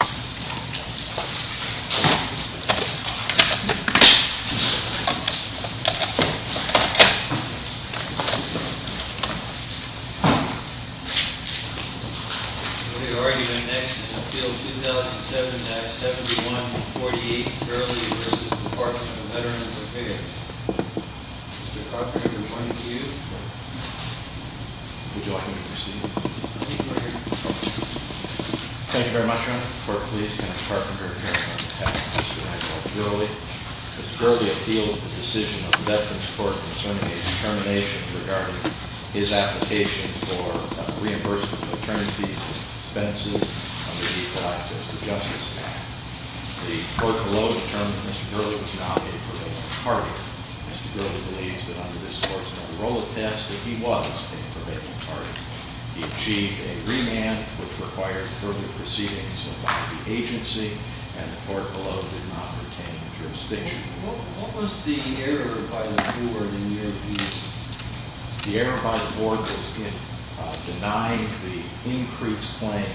We've already been next in field 2007-71-48 Burley v. Department of Veterans Affairs. Mr. Carpenter, we're pointing to you. Would you like me to proceed? Thank you very much, Your Honor. Court, please. Kenneth Carpenter here on behalf of Mr. Michael Burley. Mr. Burley appeals the decision of the Veterans Court concerning a determination regarding his application for reimbursement of attorney fees and expenses under the Equal Access to Justice Act. The court below determined that Mr. Burley was not a part of it. Mr. Burley believes that under this course of parole test that he was a prevailing target. He achieved a remand, which required further proceedings of the agency, and the court below did not retain a jurisdiction. What was the error by the board in your view? The error by the board was in denying the increased claim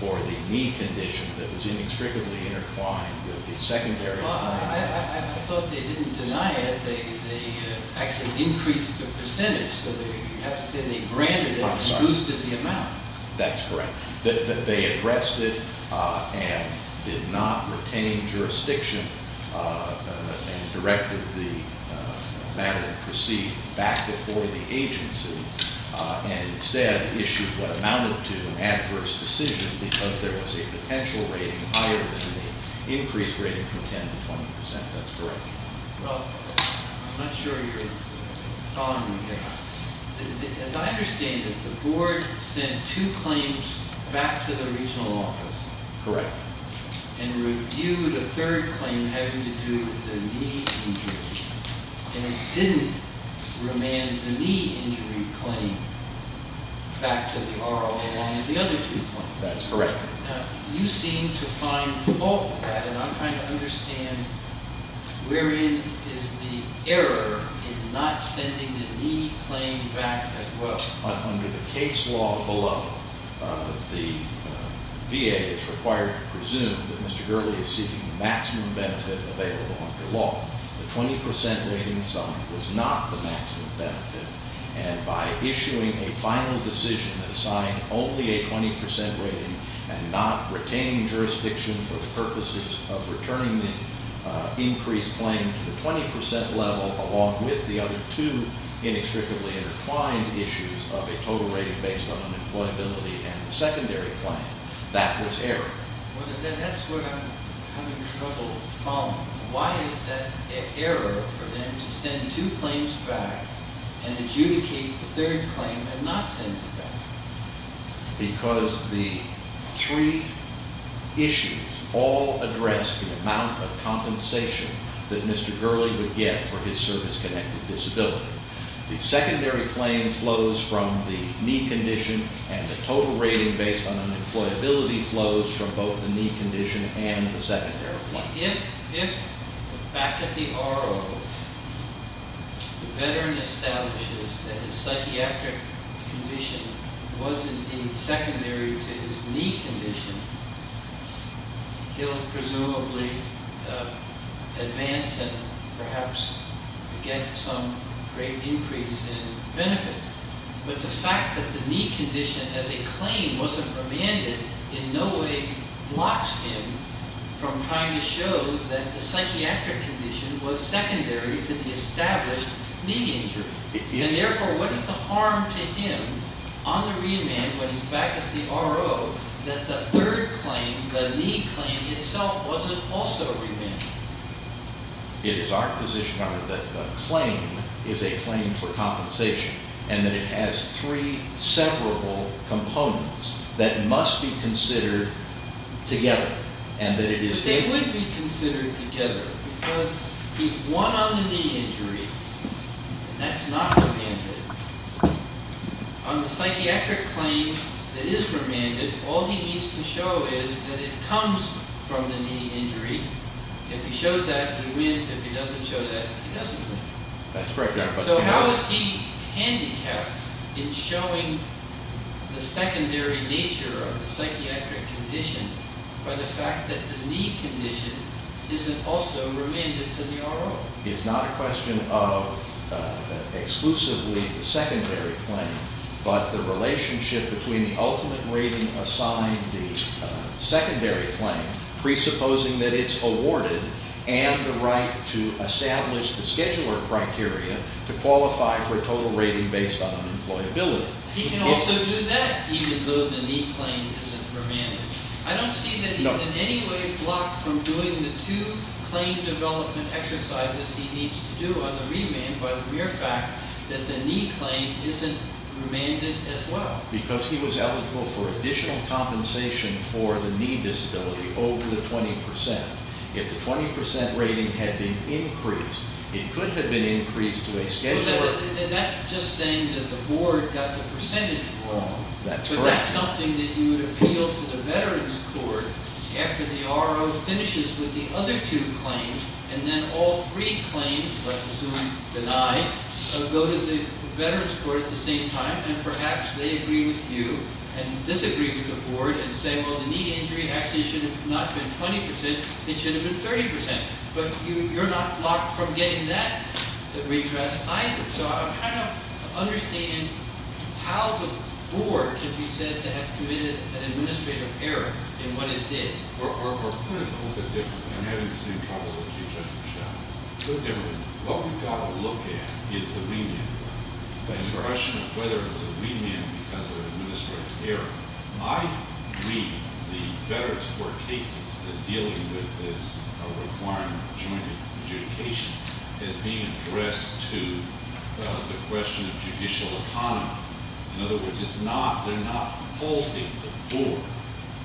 for the knee condition that was inextricably intertwined with the secondary claim. Well, I thought they didn't deny it. They actually increased the percentage, so you have to say they granted it and boosted the amount. That's correct. That they addressed it and did not retain jurisdiction and directed the matter to proceed back before the agency, and instead issued what amounted to an adverse decision because there was a potential rating higher than the increased rating from 10 to 20%. That's correct. Well, I'm not sure you're following me here. As I understand it, the board sent two claims back to the regional office. Correct. And reviewed a third claim having to do with the knee injury, and it didn't remand the knee injury claim back to the RO along with the other two claims. That's correct. Now, you seem to find fault with that, and I'm trying to understand wherein is the error in not sending the knee claim back as well. Under the case law below, the VA is required to presume that Mr. Gurley is seeking maximum benefit available under law. The 20% rating sum was not the maximum benefit, and by issuing a final decision that assigned only a 20% rating and not retaining jurisdiction for the purposes of returning the increased claim to the 20% level, along with the other two inextricably intertwined issues of a total rating based on unemployability and the secondary claim, that was error. Well, that's what I'm having trouble following. Why is that error for them to send two claims back and adjudicate the third claim and not send it back? Because the three issues all address the amount of compensation that Mr. Gurley would get for his service-connected disability. The secondary claim flows from the knee condition, and the total rating based on unemployability flows from both the knee condition and the secondary claim. Now, if back at the RO, the veteran establishes that his psychiatric condition was indeed secondary to his knee condition, he'll presumably advance and perhaps get some great increase in benefits. But the fact that the knee condition as a claim wasn't remanded in no way blocks him from trying to show that the psychiatric condition was secondary to the established knee injury. And therefore, what is the harm to him on the remand when he's back at the RO that the third claim, the knee claim itself, wasn't also remanded? It is our position, however, that the claim is a claim for compensation and that it has three severable components that must be considered together. But they would be considered together because he's won on the knee injuries, and that's not remanded. On the psychiatric claim that is remanded, all he needs to show is that it comes from the knee injury. If he shows that, he wins. If he doesn't show that, he doesn't win. So how is he handicapped in showing the secondary nature of the psychiatric condition by the fact that the knee condition isn't also remanded to the RO? It's not a question of exclusively the secondary claim, but the relationship between the ultimate rating assigned, the secondary claim, presupposing that it's awarded, and the right to establish the scheduler criteria to qualify for a total rating based on employability. He can also do that even though the knee claim isn't remanded. I don't see that he's in any way blocked from doing the two claim development exercises he needs to do on the remand by the mere fact that the knee claim isn't remanded as well. Because he was eligible for additional compensation for the knee disability over the 20%. If the 20% rating had been increased, it could have been increased to a scheduler. That's just saying that the board got the percentage wrong. But that's something that you would appeal to the veterans court after the RO finishes with the other two claims, and then all three claims, let's assume denied, go to the veterans court at the same time, and perhaps they agree with you and disagree with the board and say, well, the knee injury actually should have not been 20%. It should have been 30%. But you're not blocked from getting that redress either. So I'm trying to understand how the board can be said to have committed an administrative error in what it did. We're putting it a little bit differently. I'm having the same problem with you, Judge Buchanan. We're different. What we've got to look at is the remand. The question of whether it was a remand because of an administrative error. I read the veterans court cases that deal with this requirement of joint adjudication as being addressed to the question of judicial autonomy. In other words, they're not faulting the board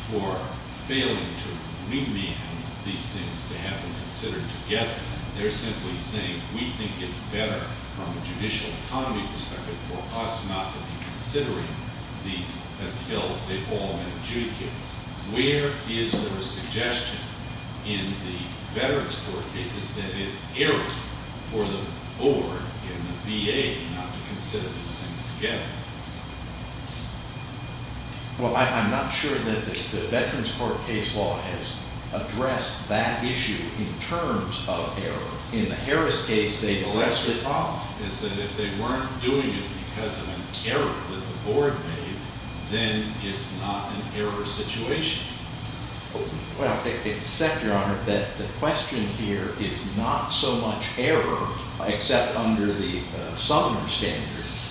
for failing to remand these things to have them considered together. They're simply saying, we think it's better from a judicial autonomy perspective for us not to be considering these until they've all been adjudicated. Where is there a suggestion in the veterans court cases that it's error for the board and the VA not to consider these things together? Well, I'm not sure that the veterans court case law has addressed that issue in terms of error. In the Harris case, they addressed it. Well, that's the problem, is that if they weren't doing it because of an error that the board made, then it's not an error situation. Well, except, Your Honor, that the question here is not so much error, except under the Sumner standard.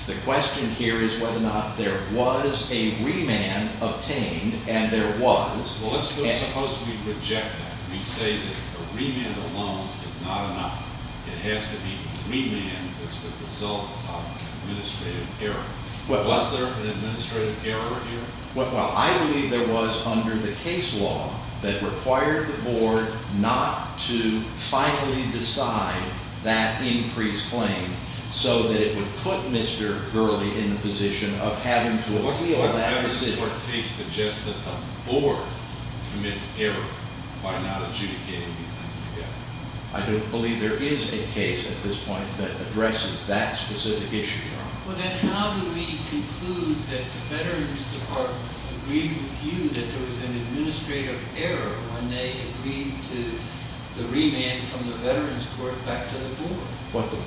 The question here is whether or not there was a remand obtained, and there was. Well, let's suppose we reject that. We say that a remand alone is not enough. It has to be remand as the result of an administrative error. Was there an administrative error here? Well, I believe there was under the case law that required the board not to finally decide that increased claim so that it would put Mr. Gurley in the position of having to appeal that decision. Does the court case suggest that the board commits error by not adjudicating these things together? I don't believe there is a case at this point that addresses that specific issue, Your Honor. Well, then how do we conclude that the veterans department agreed with you that there was an administrative error when they agreed to the remand from the veterans court back to the board? What the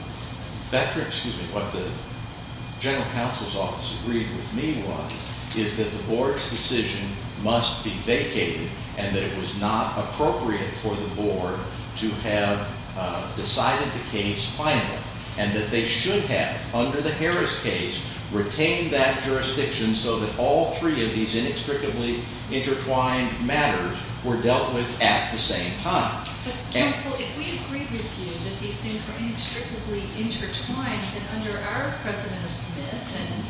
general counsel's office agreed with me was is that the board's decision must be vacated, and that it was not appropriate for the board to have decided the case finally, and that they should have, under the Harris case, retained that jurisdiction so that all three of these inextricably intertwined matters were dealt with at the same time. But, counsel, if we agreed with you that these things were inextricably intertwined, then under our precedent of Smith and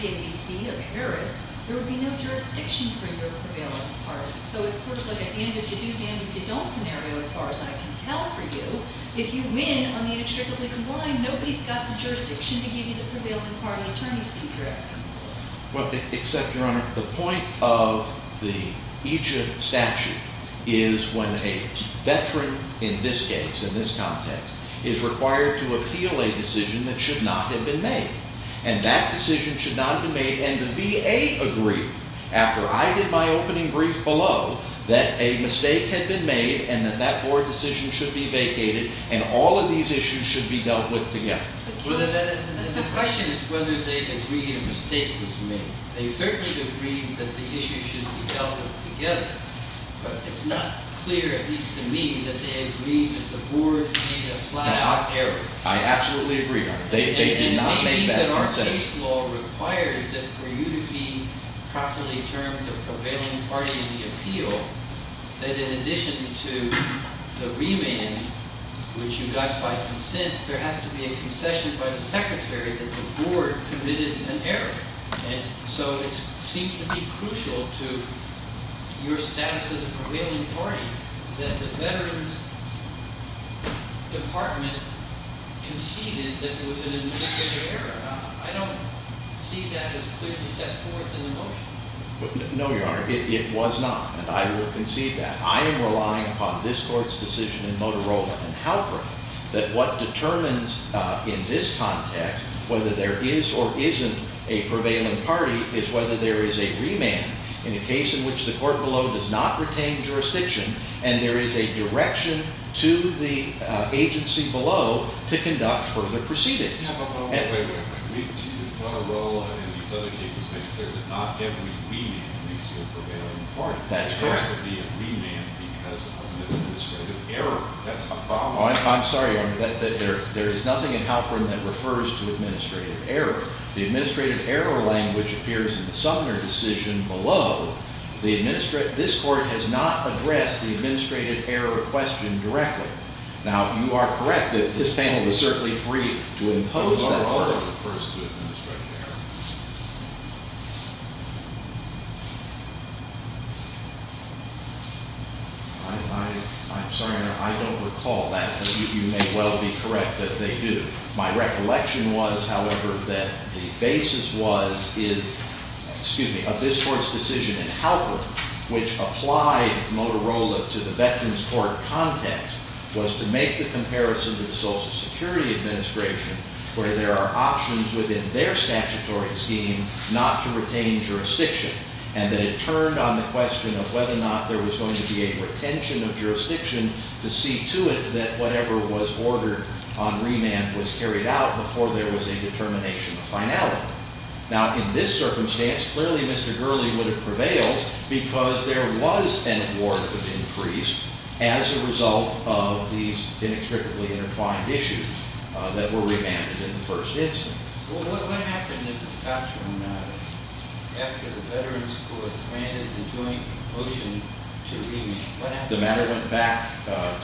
the ABC of Harris, there would be no jurisdiction for your prevailing party. So it's sort of like a hand if you do, hand if you don't scenario, as far as I can tell for you. If you win on the inextricably combined, nobody's got the jurisdiction to give you the prevailing party attorney's fees, you're asking for. Well, except, Your Honor, the point of the Egypt statute is when a veteran in this case, in this context, is required to appeal a decision that should not have been made. And that decision should not have been made, and the VA agreed, after I did my opening brief below, that a mistake had been made, and that that board decision should be vacated, and all of these issues should be dealt with together. The question is whether they agreed a mistake was made. They certainly agreed that the issues should be dealt with together, but it's not clear, at least to me, that they agreed that the board made a flat-out error. I absolutely agree, Your Honor. They did not make that concession. And maybe that our case law requires that for you to be properly termed a prevailing party in the appeal, that in addition to the remand, which you got by consent, there has to be a concession by the secretary that the board committed an error. And so it seems to be crucial to your status as a prevailing party that the Veterans Department conceded that it was an administrative error. I don't see that as clearly set forth in the motion. No, Your Honor, it was not, and I will concede that. I am relying upon this court's decision in Motorola and Halperin that what determines in this context whether there is or isn't a prevailing party is whether there is a remand in a case in which the court below does not retain jurisdiction and there is a direction to the agency below to conduct further proceedings. No, but wait, wait, wait. We at Motorola and these other cases make sure that not every remand leads to a prevailing party. That's correct. There has to be a remand because of an administrative error. That's the problem. I'm sorry, Your Honor. There is nothing in Halperin that refers to administrative error. The administrative error language appears in the Sumner decision below. This court has not addressed the administrative error question directly. Now, you are correct that this panel is certainly free to impose that language. I'm sorry, Your Honor, I don't recall that. You may well be correct that they do. My recollection was, however, that the basis was, is, excuse me, of this court's decision in Halperin, which applied Motorola to the Veterans Court context, was to make the comparison to the Social Security Administration where there are options within their statutory scheme not to retain jurisdiction, and that it turned on the question of whether or not there was going to be a retention of jurisdiction to see to it that whatever was ordered on remand was carried out before there was a determination of finality. Now, in this circumstance, clearly Mr. Gurley would have prevailed because there was an award of increase as a result of these inextricably intertwined issues that were remanded in the first instance. Well, what happened in the Falchion matters after the Veterans Court granted the joint motion to leave? What happened? The matter went back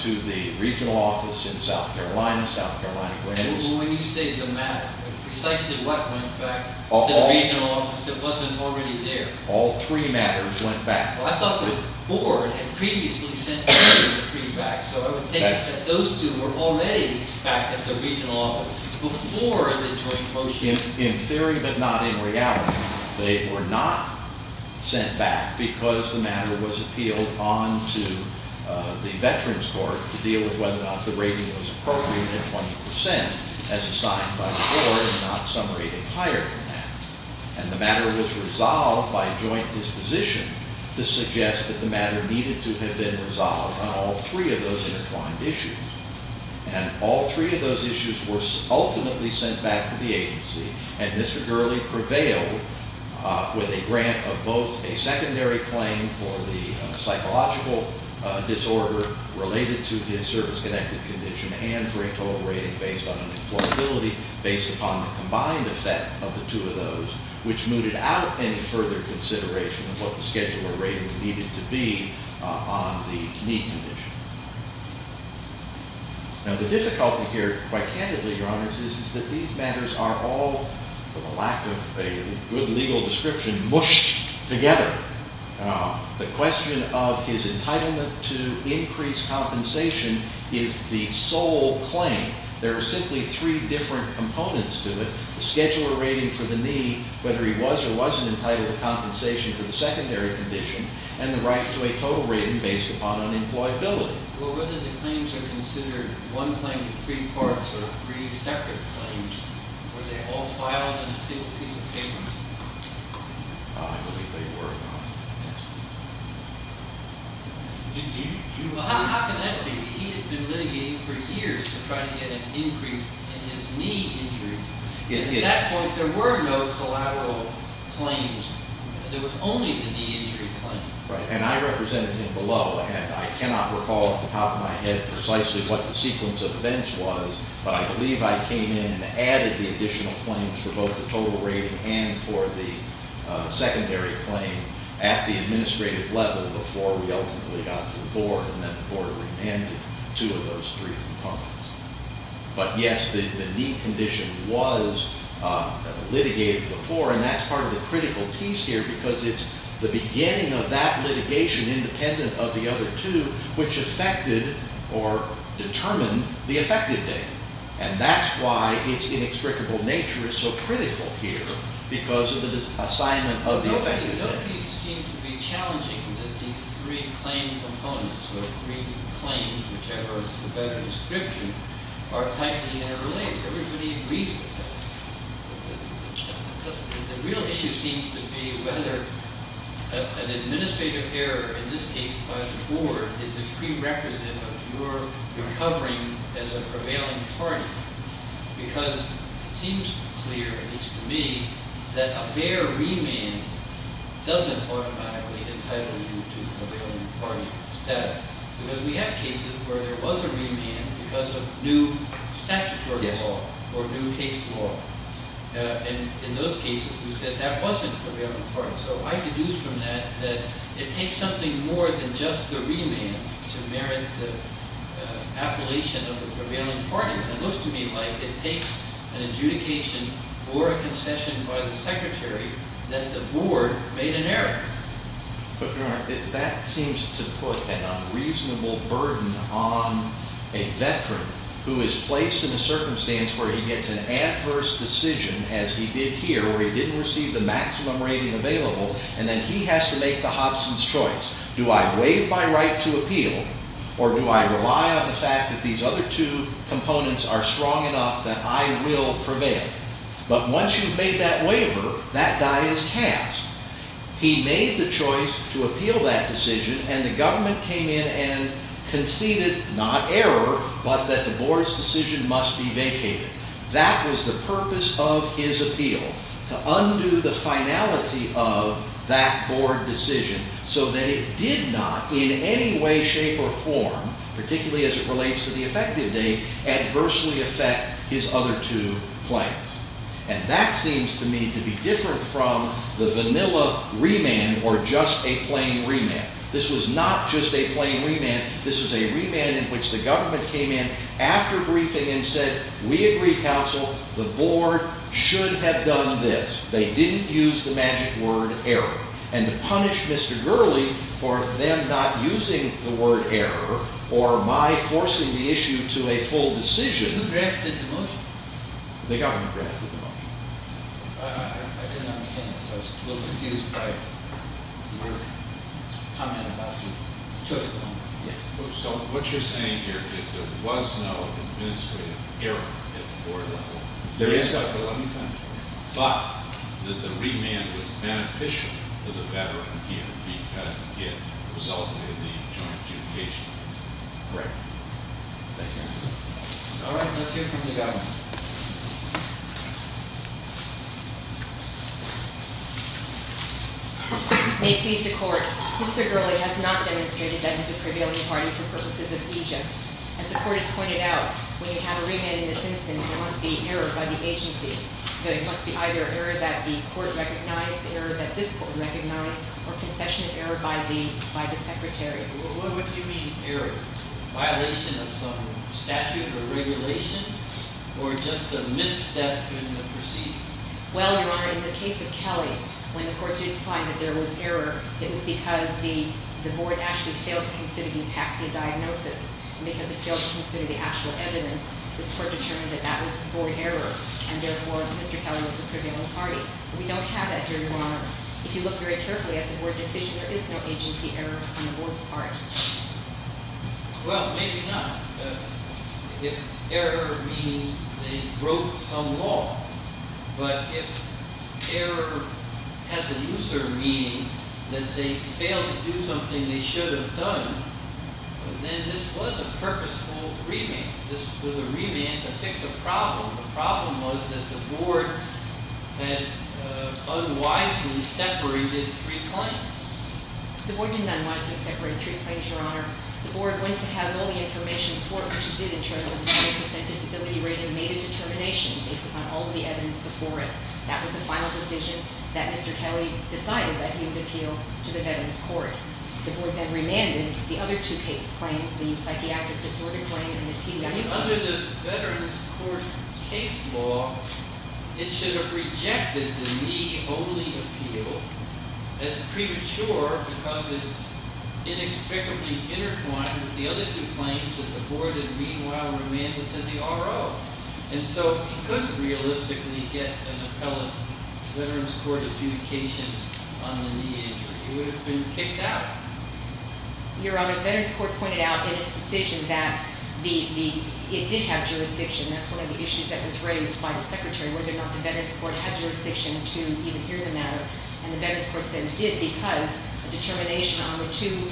to the regional office in South Carolina. South Carolina granted this. Well, when you say the matter, precisely what went back to the regional office that wasn't already there? All three matters went back. Well, I thought the board had previously sent three back, so I would take it that those two were already back at the regional office before the joint motion. In theory but not in reality, they were not sent back because the matter was appealed on to the Veterans Court to deal with whether or not the rating was appropriate at 20 percent as assigned by the board and not some rating higher than that. And the matter was resolved by joint disposition to suggest that the matter needed to have been resolved on all three of those intertwined issues. And all three of those issues were ultimately sent back to the agency, and Mr. Gurley prevailed with a grant of both a secondary claim for the psychological disorder related to his service-connected condition and for a total rating based on employability based upon the combined effect of the two of those, which mooted out any further consideration of what the scheduler rating needed to be on the need condition. Now, the difficulty here, quite candidly, Your Honors, is that these matters are all, for the lack of a good legal description, mushed together. The question of his entitlement to increased compensation is the sole claim. There are simply three different components to it, the scheduler rating for the need, whether he was or wasn't entitled to compensation for the secondary condition, and the right to a total rating based upon unemployability. Well, whether the claims are considered one claim to three parts or three separate claims, were they all filed in a single piece of paper? I believe they were, Your Honor. Well, how can that be? He had been litigating for years to try to get an increase in his knee injury. At that point, there were no collateral claims. There was only the knee injury claim. Right. And I represented him below, and I cannot recall off the top of my head precisely what the sequence of events was, but I believe I came in and added the additional claims for both the total rating and for the secondary claim at the administrative level before we ultimately got to the Board, and then the Board remanded two of those three components. But, yes, the knee condition was litigated before, and that's part of the critical piece here because it's the beginning of that litigation independent of the other two, which affected or determined the effective date. And that's why its inextricable nature is so critical here because of the assignment of the effective date. No piece seemed to be challenging that these three claim components, or three claims, whichever is the better description, are tightly interrelated. Everybody agrees with that. The real issue seems to be whether an administrative error, in this case by the Board, is a prerequisite of your recovering as a prevailing party. Because it seems clear, at least to me, that a bare remand doesn't automatically entitle you to prevailing party status. Because we had cases where there was a remand because of new statutory law or new case law. And in those cases, we said that wasn't a prevailing party. So I deduce from that that it takes something more than just the remand to merit the appellation of the prevailing party. And it looks to me like it takes an adjudication or a concession by the Secretary that the Board made an error. But, Your Honor, that seems to put an unreasonable burden on a veteran who is placed in a circumstance where he gets an adverse decision, as he did here, where he didn't receive the maximum rating available, and then he has to make the Hobson's choice. Do I waive my right to appeal, or do I rely on the fact that these other two components are strong enough that I will prevail? But once you've made that waiver, that guy is cast. He made the choice to appeal that decision, and the government came in and conceded, not error, but that the Board's decision must be vacated. That was the purpose of his appeal, to undo the finality of that Board decision, so that it did not, in any way, shape, or form, particularly as it relates to the effective date, adversely affect his other two claims. And that seems to me to be different from the vanilla remand, or just a plain remand. This was not just a plain remand. This was a remand in which the government came in after briefing and said, we agree, counsel, the Board should have done this. They didn't use the magic word error. And to punish Mr. Gurley for them not using the word error, or my forcing the issue to a full decision… Who drafted the motion? The government drafted the motion. I didn't understand this. I was a little confused by your comment about the two of them. So what you're saying here is there was no administrative error at the Board level. There is, but let me find it. But that the remand was beneficial to the veteran here because it resulted in the joint adjudication. Correct. Thank you. All right, let's hear from the government. May it please the Court. Mr. Gurley has not demonstrated that he's a prevailing party for purposes of Egypt. As the Court has pointed out, when you have a remand in this instance, there must be error by the agency. There must be either error that the Court recognized, error that this Court recognized, or concession of error by the Secretary. What do you mean error? Error, violation of some statute or regulation, or just a misstep in the proceeding? Well, Your Honor, in the case of Kelly, when the Court did find that there was error, it was because the Board actually failed to consider the taxi diagnosis. And because it failed to consider the actual evidence, this Court determined that that was Board error. And therefore, Mr. Kelly was a prevailing party. We don't have that here, Your Honor. If you look very carefully at the Board decision, there is no agency error on the Board's part. Well, maybe not. If error means they broke some law, but if error has a new sort of meaning, that they failed to do something they should have done, then this was a purposeful remand. This was a remand to fix a problem. The problem was that the Board had unwisely separated three claims. The Board didn't unwisely separate three claims, Your Honor. The Board, once it has all the information for it, which it did in terms of the 20% disability rating, made a determination based upon all the evidence before it. That was the final decision that Mr. Kelly decided that he would appeal to the Veterans Court. The Board then remanded the other two claims, the psychiatric disorder claim and the TBI claim. Under the Veterans Court case law, it should have rejected the me only appeal. It's premature because it's inexplicably intertwined with the other two claims that the Board had meanwhile remanded to the RO. And so it couldn't realistically get an appellate Veterans Court adjudication on the knee injury. It would have been kicked out. Your Honor, the Veterans Court pointed out in its decision that it did have jurisdiction. That's one of the issues that was raised by the Secretary, whether or not the Veterans Court had jurisdiction to even hear the matter. And the Veterans Court said it did because the determination on the two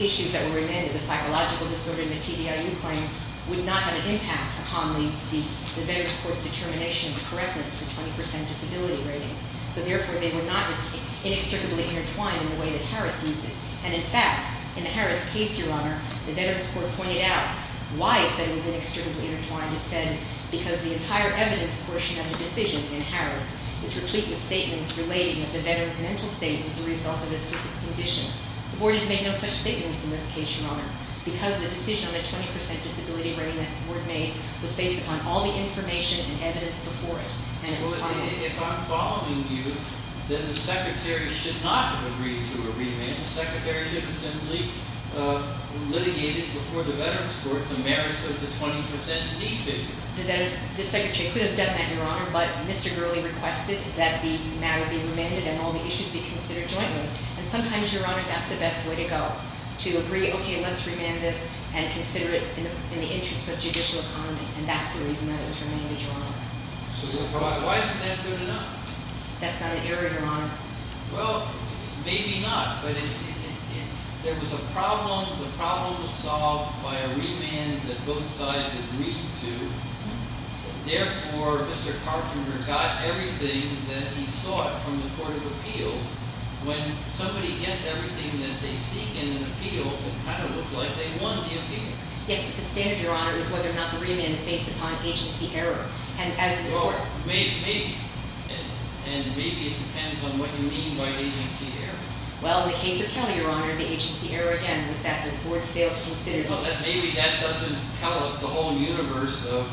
issues that were remanded, the psychological disorder and the TBIU claim, would not have an impact upon the Veterans Court's determination of the correctness of the 20% disability rating. So therefore, they were not inextricably intertwined in the way that Harris used it. And in fact, in the Harris case, Your Honor, the Veterans Court pointed out why it said it was inextricably intertwined. It said because the entire evidence portion of the decision in Harris is replete with statements relating to the Veterans' mental state as a result of this condition. The Board has made no such statements in this case, Your Honor, because the decision on the 20% disability rating that the Board made was based upon all the information and evidence before it. If I'm following you, then the Secretary should not have agreed to a remand. The Secretary should have simply litigated before the Veterans Court the merits of the 20% need figure. The Secretary could have done that, Your Honor, but Mr. Gurley requested that the matter be remanded and all the issues be considered jointly. And sometimes, Your Honor, that's the best way to go, to agree, okay, let's remand this and consider it in the interest of judicial economy. And that's the reason that it was remanded, Your Honor. So why isn't that good enough? That's not an error, Your Honor. Well, maybe not, but there was a problem. The problem was solved by a remand that both sides agreed to. Therefore, Mr. Carpenter got everything that he sought from the Court of Appeals. When somebody gets everything that they seek in an appeal, it kind of looks like they won the appeal. Yes, but the standard, Your Honor, is whether or not the remand is based upon agency error, and as a sort. Maybe, and maybe it depends on what you mean by agency error. Well, in the case of Kelly, Your Honor, the agency error, again, was that the court failed to consider. Well, maybe that doesn't tell us the whole universe of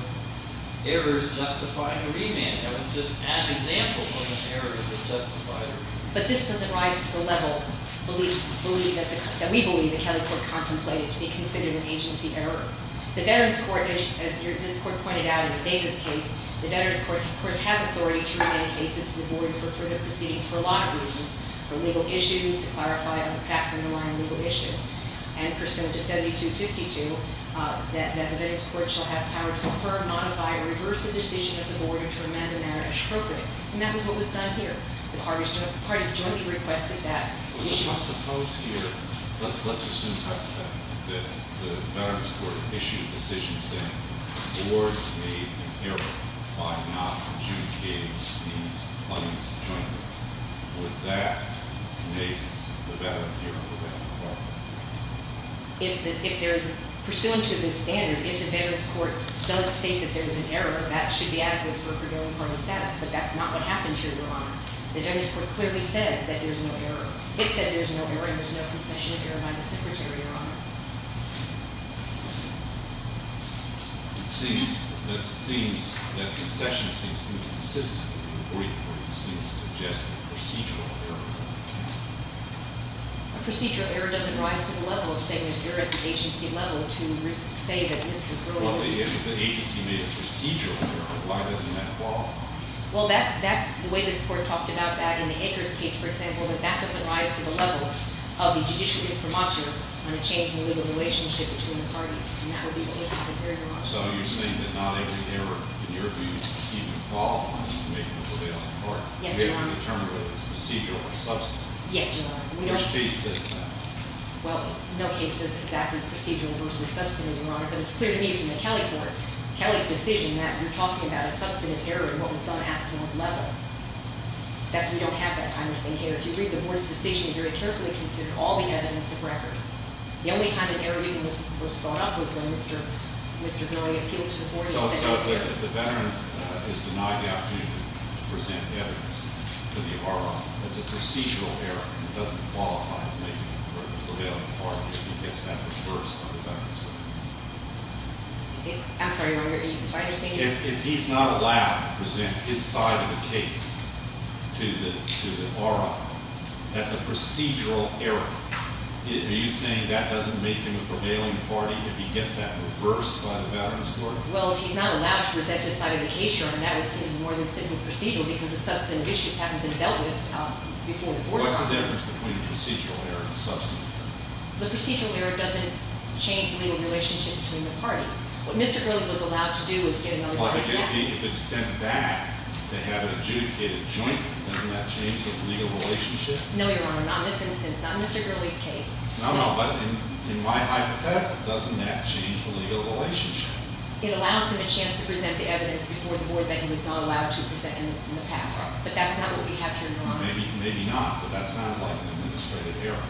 errors justifying a remand. That would just add an example of an error that justified a remand. But this doesn't rise to the level that we believe the Kelly Court contemplated to be considered an agency error. The Veterans Court, as this court pointed out in the Davis case, the Veterans Court, of course, has authority to remand cases to the board for further proceedings for a lot of reasons. For legal issues, to clarify a tax underlying legal issue, and pursuant to 7252, that the Veterans Court shall have power to affirm, modify, or reverse a decision of the board to remand the matter as appropriate. And that was what was done here. The parties jointly requested that. I suppose here, let's assume that the Veterans Court issued a decision saying, the board made an error by not adjudicating these parties jointly. Would that make the Veterans Court? If there is, pursuant to this standard, if the Veterans Court does state that there is an error, that should be adequate for a prevailing party status, but that's not what happened here, Your Honor. The Veterans Court clearly said that there's no error. It said there's no error, and there's no concession of error by the Secretary, Your Honor. It seems that concession seems inconsistent in the court report. It seems to suggest a procedural error, as it can be. A procedural error doesn't rise to the level of saying there's error at the agency level to say that it is concluded. Well, if the agency made a procedural error, why doesn't that fall? Well, the way this court talked about that in the Akers case, for example, that that doesn't rise to the level of the judiciary promulgation on a change in the relationship between the parties. And that would be the only thing that would vary, Your Honor. So you're saying that not every error, in your view, even falls when you make it a prevailing party? Yes, Your Honor. You haven't determined whether it's procedural or substantive? Yes, Your Honor. Which case says that? Well, no case says exactly procedural versus substantive, Your Honor. But it's clear to me from the Kelly court, Kelly's decision that you're talking about a substantive error in what was done at the level. In fact, we don't have that kind of thing here. If you read the board's decision, we very carefully considered all the evidence of record. The only time an error even was thought of was when Mr. Billy appealed to the board- So if the veteran is denied the opportunity to present evidence to the RR, it's a procedural error. It doesn't qualify as making it a prevailing party if he gets that reversed by the veterans court. I'm sorry, Your Honor. If I understand you- If he's not allowed to present his side of the case to the RR, that's a procedural error. Are you saying that doesn't make him a prevailing party if he gets that reversed by the veterans court? Well, if he's not allowed to present his side of the case, Your Honor, that would seem more than simple procedural because the substantive issues haven't been dealt with before the board- What's the difference between a procedural error and a substantive error? The procedural error doesn't change the legal relationship between the parties. What Mr. Gurley was allowed to do was get another- Well, if it's sent back to have it adjudicated jointly, doesn't that change the legal relationship? No, Your Honor, not in this instance, not in Mr. Gurley's case. No, no, but in my hypothetical, doesn't that change the legal relationship? It allows him a chance to present the evidence before the board that he was not allowed to present in the past. But that's not what we have here, Your Honor. Well, maybe not, but that sounds like an administrative error.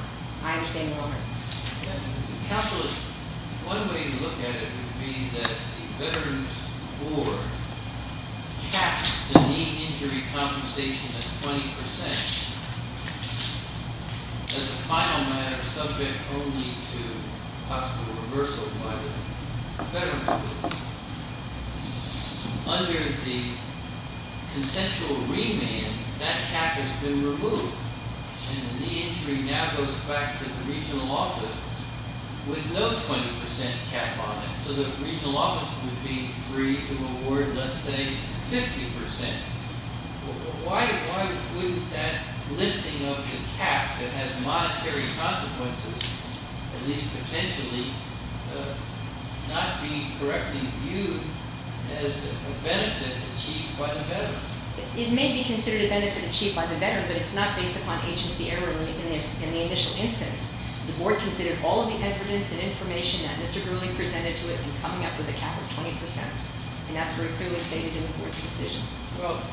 I understand, Your Honor. Counselor, one way to look at it would be that the veterans' board caps the knee injury compensation at 20% as a final matter subject only to possible reversal by the veterans' board. Under the consensual remand, that cap has been removed. And the knee injury now goes back to the regional office with no 20% cap on it. So the regional office would be free to award, let's say, 50%. Why wouldn't that lifting of the cap that has monetary consequences, at least potentially, not be correctly viewed as a benefit achieved by the veterans? It may be considered a benefit achieved by the veteran, but it's not based upon agency error in the initial instance. The board considered all of the evidence and information that Mr. Gurley presented to it in coming up with a cap of 20%. And that's very clearly stated in the board's decision. Well,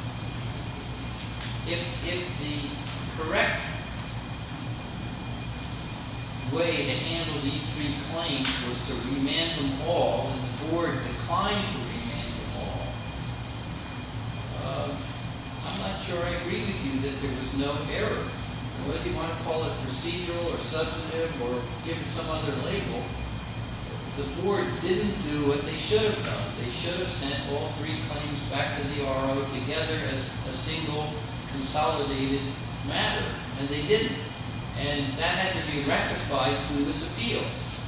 if the correct way to handle these three claims was to remand them all, and the board declined to remand them all, I'm not sure I agree with you that there was no error. Whether you want to call it procedural or substantive or give it some other label, the board didn't do what they should have done. They should have sent all three claims back to the RO together as a single consolidated matter, and they didn't. And that had to be rectified through this appeal.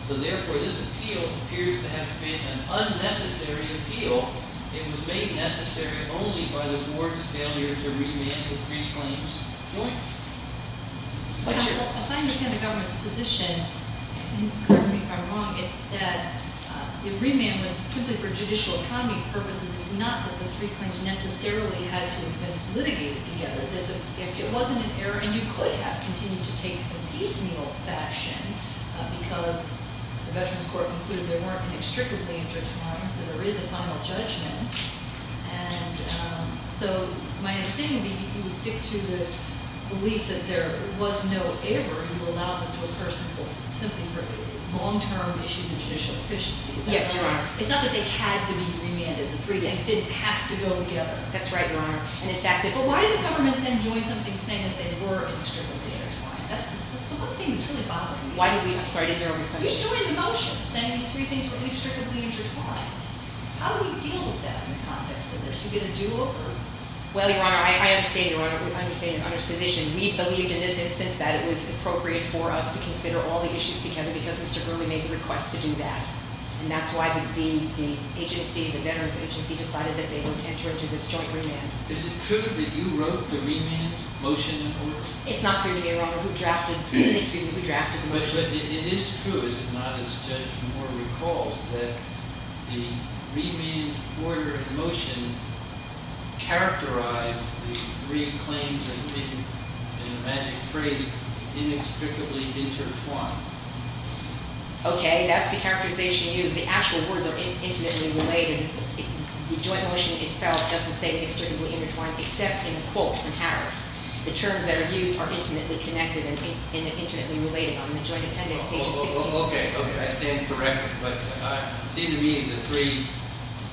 So therefore, this appeal appears to have been an unnecessary appeal. It was made necessary only by the board's failure to remand the three claims jointly. If I understand the government's position, and pardon me if I'm wrong, it's that the remand was simply for judicial economy purposes. It's not that the three claims necessarily had to have been litigated together. It wasn't an error, and you could have continued to take the case in the old fashion because the Veterans Court concluded there weren't inextricably intertwined, so there is a final judgment. And so my understanding would be you would stick to the belief that there was no error. You would allow this to occur simply for long-term issues of judicial efficiency. Yes, Your Honor. It's not that they had to be remanded. The three claims didn't have to go together. That's right, Your Honor. But why did the government then join something saying that they were inextricably intertwined? That's the one thing that's really bothering me. I'm sorry to hear all your questions. We joined the motions saying these three things were inextricably intertwined. How do we deal with that in the context of this? Do we get a do-over? Well, Your Honor, I understand Your Honor's position. We believed in this instance that it was appropriate for us to consider all the issues together because Mr. Gurley made the request to do that. And that's why the agency, the Veterans Agency, decided that they would enter into this joint remand. Is it true that you wrote the remand motion in court? It's not clear to me, Your Honor, who drafted the motion. It is true, is it not, as Judge Moore recalls, that the remand order motion characterized the three claims as being, in a magic phrase, inextricably intertwined. Okay. That's the characterization used. The actual words are intimately related. The joint motion itself doesn't say inextricably intertwined except in quotes in Harris. The terms that are used are intimately connected and intimately related. On the joint appendix, page 16- Okay, okay. I stand corrected. But it seems to me the three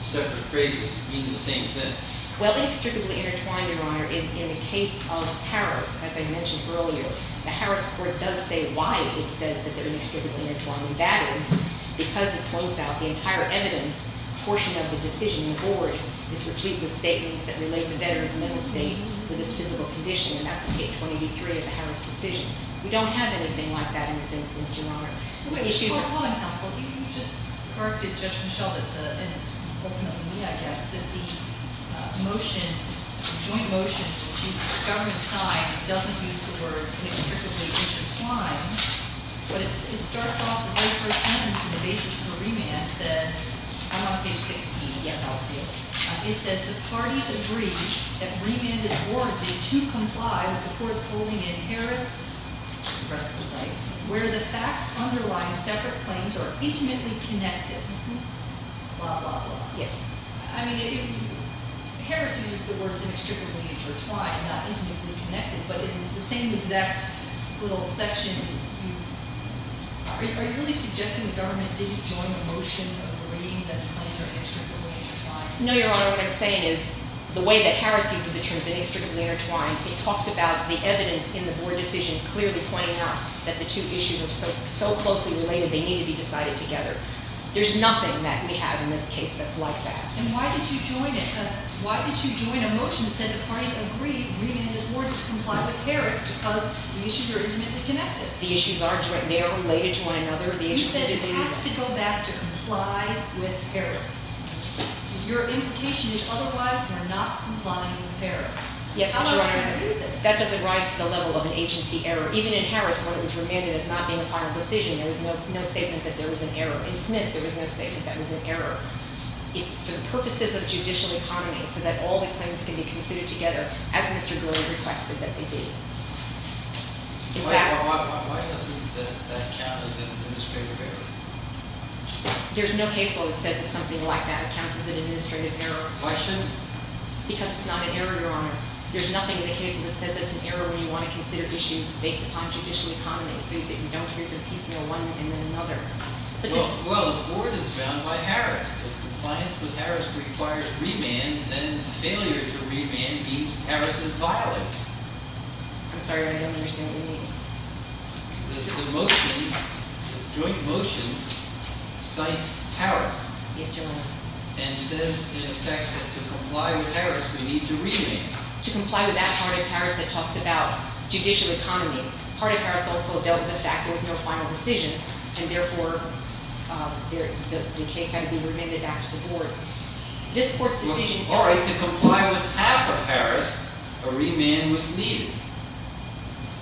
separate phrases mean the same thing. Well, inextricably intertwined, Your Honor, in the case of Harris, as I mentioned earlier, the Harris court does say why it says that they're inextricably intertwined. That is because it points out the entire evidence portion of the decision. The board is replete with statements that relate the veteran's mental state with his physical condition. And that's in page 23 of the Harris decision. We don't have anything like that in this instance, Your Honor. Wait, before calling counsel, you just corrected Judge Michel that the, and ultimately me, I guess, that the motion, joint motion to achieve government's time doesn't use the words inextricably intertwined. But it starts off the very first sentence in the basis for remand says, I'm on page 16. Yes, I'll see it. It says the parties agree that remand is warranted to comply with the courts holding in Harris, the rest of the site, where the facts underlying separate claims are intimately connected. Blah, blah, blah. Yes. I mean, Harris used the words inextricably intertwined, not intimately connected. But in the same exact little section, are you really suggesting the government didn't join the motion of agreeing that the claims are inextricably intertwined? No, Your Honor. What I'm saying is the way that Harris used the terms inextricably intertwined, it talks about the evidence in the board decision clearly pointing out that the two issues are so closely related they need to be decided together. There's nothing that we have in this case that's like that. And why did you join it? Why did you join a motion that said the parties agree remand is warranted to comply with Harris because the issues are intimately connected? The issues are joint. They are related to one another. You said it has to go back to comply with Harris. Your implication is otherwise we're not complying with Harris. Yes, Your Honor. That doesn't rise to the level of an agency error. Even in Harris where it was remanded as not being a final decision, there was no statement that there was an error. In Smith, there was no statement that there was an error. It's for the purposes of judicial economy so that all the claims can be considered together as Mr. Gurley requested that they be. Exactly. Why doesn't that count as an administrative error? There's no case law that says it's something like that. It counts as an administrative error. Why shouldn't it? Because it's not an error, Your Honor. There's nothing in the case that says it's an error when you want to consider issues based upon judicial economy so that you don't hear from piecemeal one and then another. Well, the board is bound by Harris. If compliance with Harris requires remand, then failure to remand means Harris is violated. I'm sorry. I don't understand what you mean. The motion, the joint motion, cites Harris. Yes, Your Honor. And says, in effect, that to comply with Harris, we need to remand. To comply with that part of Harris that talks about judicial economy. Part of Harris also dealt with the fact there was no final decision and, therefore, the case had to be remanded back to the board. This court's decision- All right, to comply with half of Harris, a remand was needed.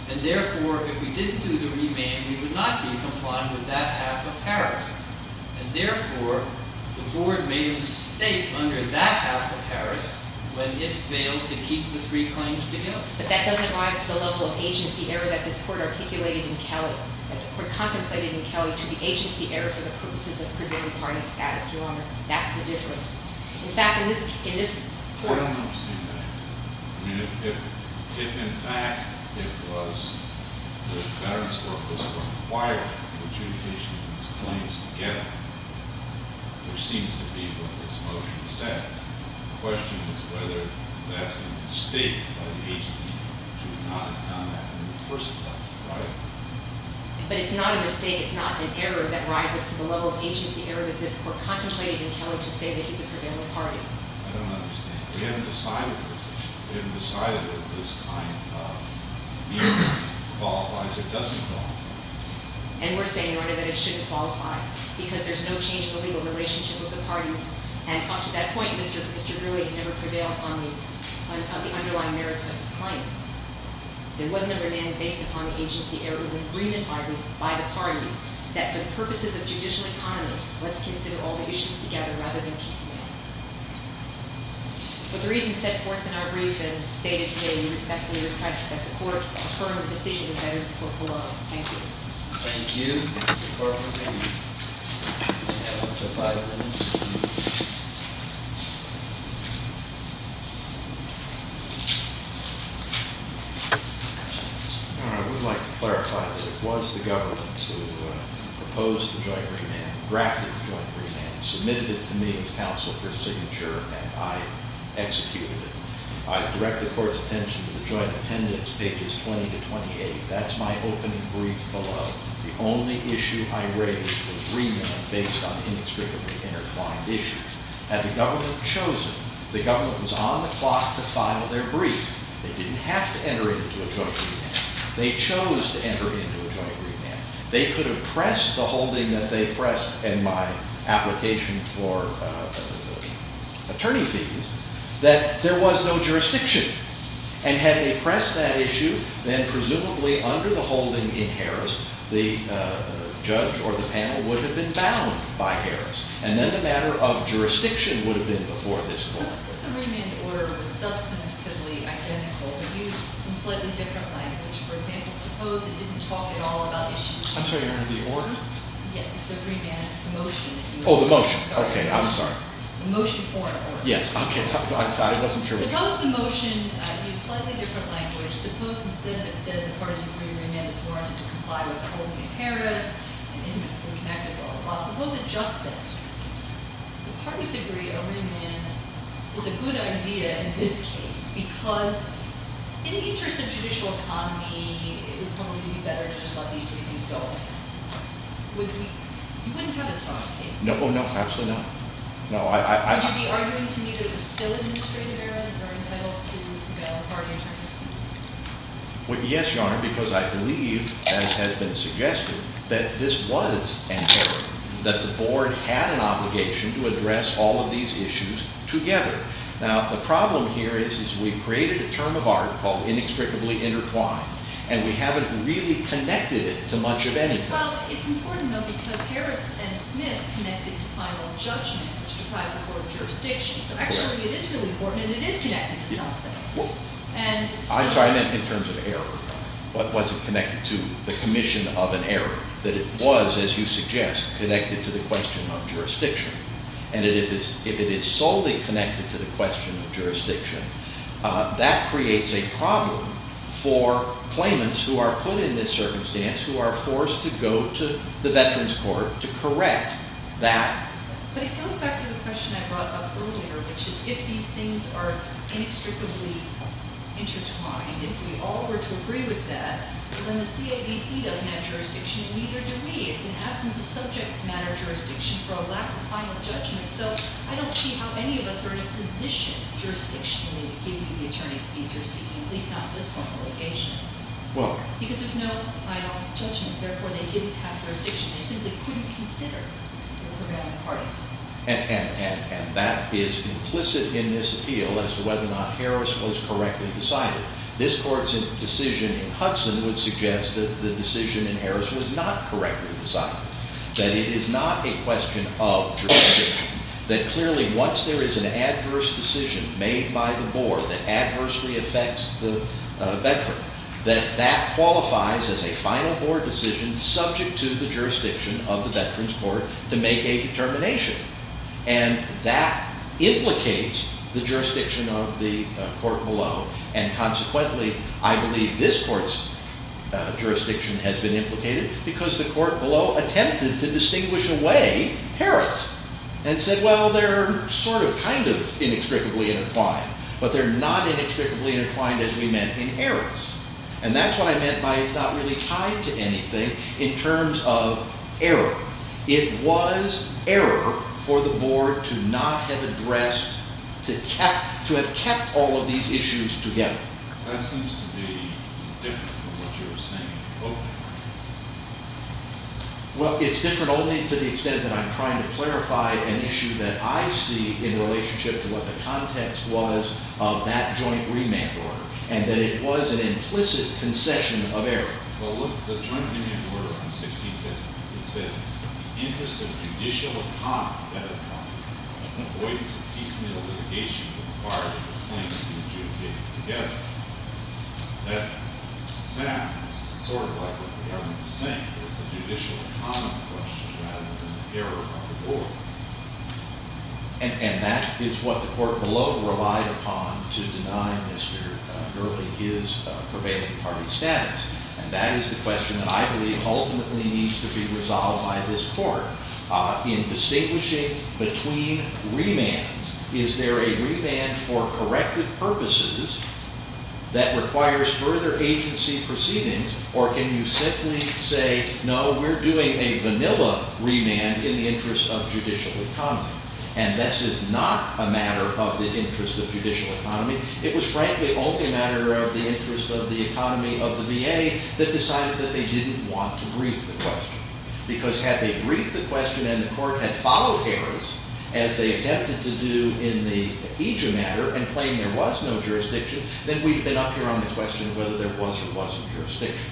And, therefore, if we didn't do the remand, we would not be complying with that half of Harris. And, therefore, the board made a mistake under that half of Harris when it failed to keep the three claims together. But that doesn't rise to the level of agency error that this court articulated in Kelly, or contemplated in Kelly, to be agency error for the purposes of preserving party status, Your Honor. That's the difference. In fact, in this- I don't understand that answer. I mean, if, in fact, it was, the Veterans Court was required to adjudicate these claims together, which seems to be what this motion says, the question is whether that's a mistake by the agency to not have done that in the first place, right? But it's not a mistake. It's not an error that rises to the level of agency error that this court contemplated in Kelly to say that he's a prevailing party. I don't understand. We haven't decided the decision. We haven't decided if this kind of meeting qualifies or doesn't qualify. And we're saying, Your Honor, that it shouldn't qualify because there's no change in the legal relationship with the parties. And, up to that point, Mr. Greeley never prevailed on the underlying merits of his claim. There wasn't a demand based upon agency errors and agreement by the parties that, for the purposes of judicial economy, let's consider all the issues together rather than piecemeal. But the reason set forth in our brief and stated today, we respectfully request that the court affirm the decision of the Veterans Court below. Thank you. Thank you. All right. We'd like to clarify that it was the government who proposed the joint remand, drafted the joint remand, submitted it to me as counsel for signature, and I executed it. I direct the court's attention to the joint appendix, pages 20 to 28. That's my opening brief below. The only issue I raised was remand based on inextricably intertwined issues. Had the government chosen, the government was on the clock to file their brief. They didn't have to enter into a joint remand. They chose to enter into a joint remand. They could have pressed the holding that they pressed in my application for attorney fees that there was no jurisdiction. And had they pressed that issue, then presumably under the holding in Harris, the judge or the panel would have been bound by Harris. And then the matter of jurisdiction would have been before this court. The remand order was substantively identical but used some slightly different language. For example, suppose it didn't talk at all about issues. I'm sorry. The order? Yes. The remand motion. Oh, the motion. Okay. I'm sorry. The motion for it. Yes. Okay. I'm sorry. It wasn't true. Suppose the motion used slightly different language. Suppose that the parties agree remand is warranted to comply with holding in Harris and intimately connected law. Suppose it just said the parties agree a remand is a good idea in this case because in the interest of judicial economy, it would probably be better to just let these briefings go. You wouldn't have a strong case. Oh, no. Absolutely not. No. Would you be arguing to me that it was still an administrative error that they're entitled to bail authority in terms of this case? Yes, Your Honor, because I believe, as has been suggested, that this was an error, that the board had an obligation to address all of these issues together. Now, the problem here is we've created a term of art called inextricably intertwined, and we haven't really connected it to much of anything. Well, it's important, though, because Harris and Smith connected to final judgment, which deprives the board of jurisdiction. So, actually, it is really important, and it is connected to something. I'm sorry. I meant in terms of error. But was it connected to the commission of an error that it was, as you suggest, connected to the question of jurisdiction? That creates a problem for claimants who are put in this circumstance, who are forced to go to the Veterans Court to correct that. But it goes back to the question I brought up earlier, which is if these things are inextricably intertwined, if we all were to agree with that, then the CAVC doesn't have jurisdiction, and neither do we. It's an absence of subject matter jurisdiction for a lack of final judgment. So I don't see how any of us are in a position jurisdictionally to give you the attorney's fees you're seeking, at least not at this point in litigation. Because there's no final judgment. Therefore, they didn't have jurisdiction. They simply couldn't consider the program of parties. And that is implicit in this appeal as to whether or not Harris was correctly decided. This court's decision in Hudson would suggest that the decision in Harris was not correctly decided, that it is not a question of jurisdiction, that clearly once there is an adverse decision made by the board that adversely affects the veteran, that that qualifies as a final board decision subject to the jurisdiction of the Veterans Court to make a determination. And that implicates the jurisdiction of the court below. And consequently, I believe this court's jurisdiction has been implicated because the court below attempted to distinguish away Harris. And said, well, they're sort of, kind of, inextricably intertwined. But they're not inextricably intertwined as we meant in Harris. And that's what I meant by it's not really tied to anything in terms of error. It was error for the board to not have addressed, to have kept all of these issues together. Well, it's different only to the extent that I'm trying to clarify an issue that I see in relationship to what the context was of that joint remand order. And that it was an implicit concession of error. Well, look, the joint remand order on 16 says, it says, the interest of judicial economy that avoids a piecemeal litigation that requires a claim to be adjudicated together. That sounds sort of like what the government is saying. But it's a judicial economy question rather than the error of the board. And that is what the court below relied upon to deny Mr. Gurley his prevailing party status. And that is the question that I believe ultimately needs to be resolved by this court. In distinguishing between remands, is there a remand for corrective purposes that requires further agency proceedings? Or can you simply say, no, we're doing a vanilla remand in the interest of judicial economy. And this is not a matter of the interest of judicial economy. It was frankly only a matter of the interest of the economy of the VA that decided that they didn't want to brief the question. Because had they briefed the question and the court had followed Harris as they attempted to do in the IJA matter and claimed there was no jurisdiction, then we'd have been up here on the question of whether there was or wasn't jurisdiction.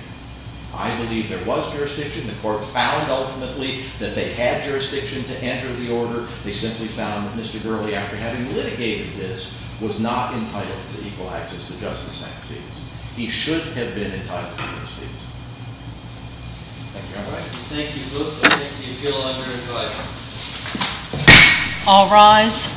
I believe there was jurisdiction. The court found ultimately that they had jurisdiction to enter the order. They simply found that Mr. Gurley, after having litigated this, was not entitled to equal access to justice. He should have been entitled to justice. Thank you. I'll rise.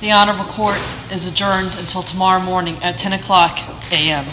The Honorable Court is adjourned until tomorrow morning at 10 o'clock AM.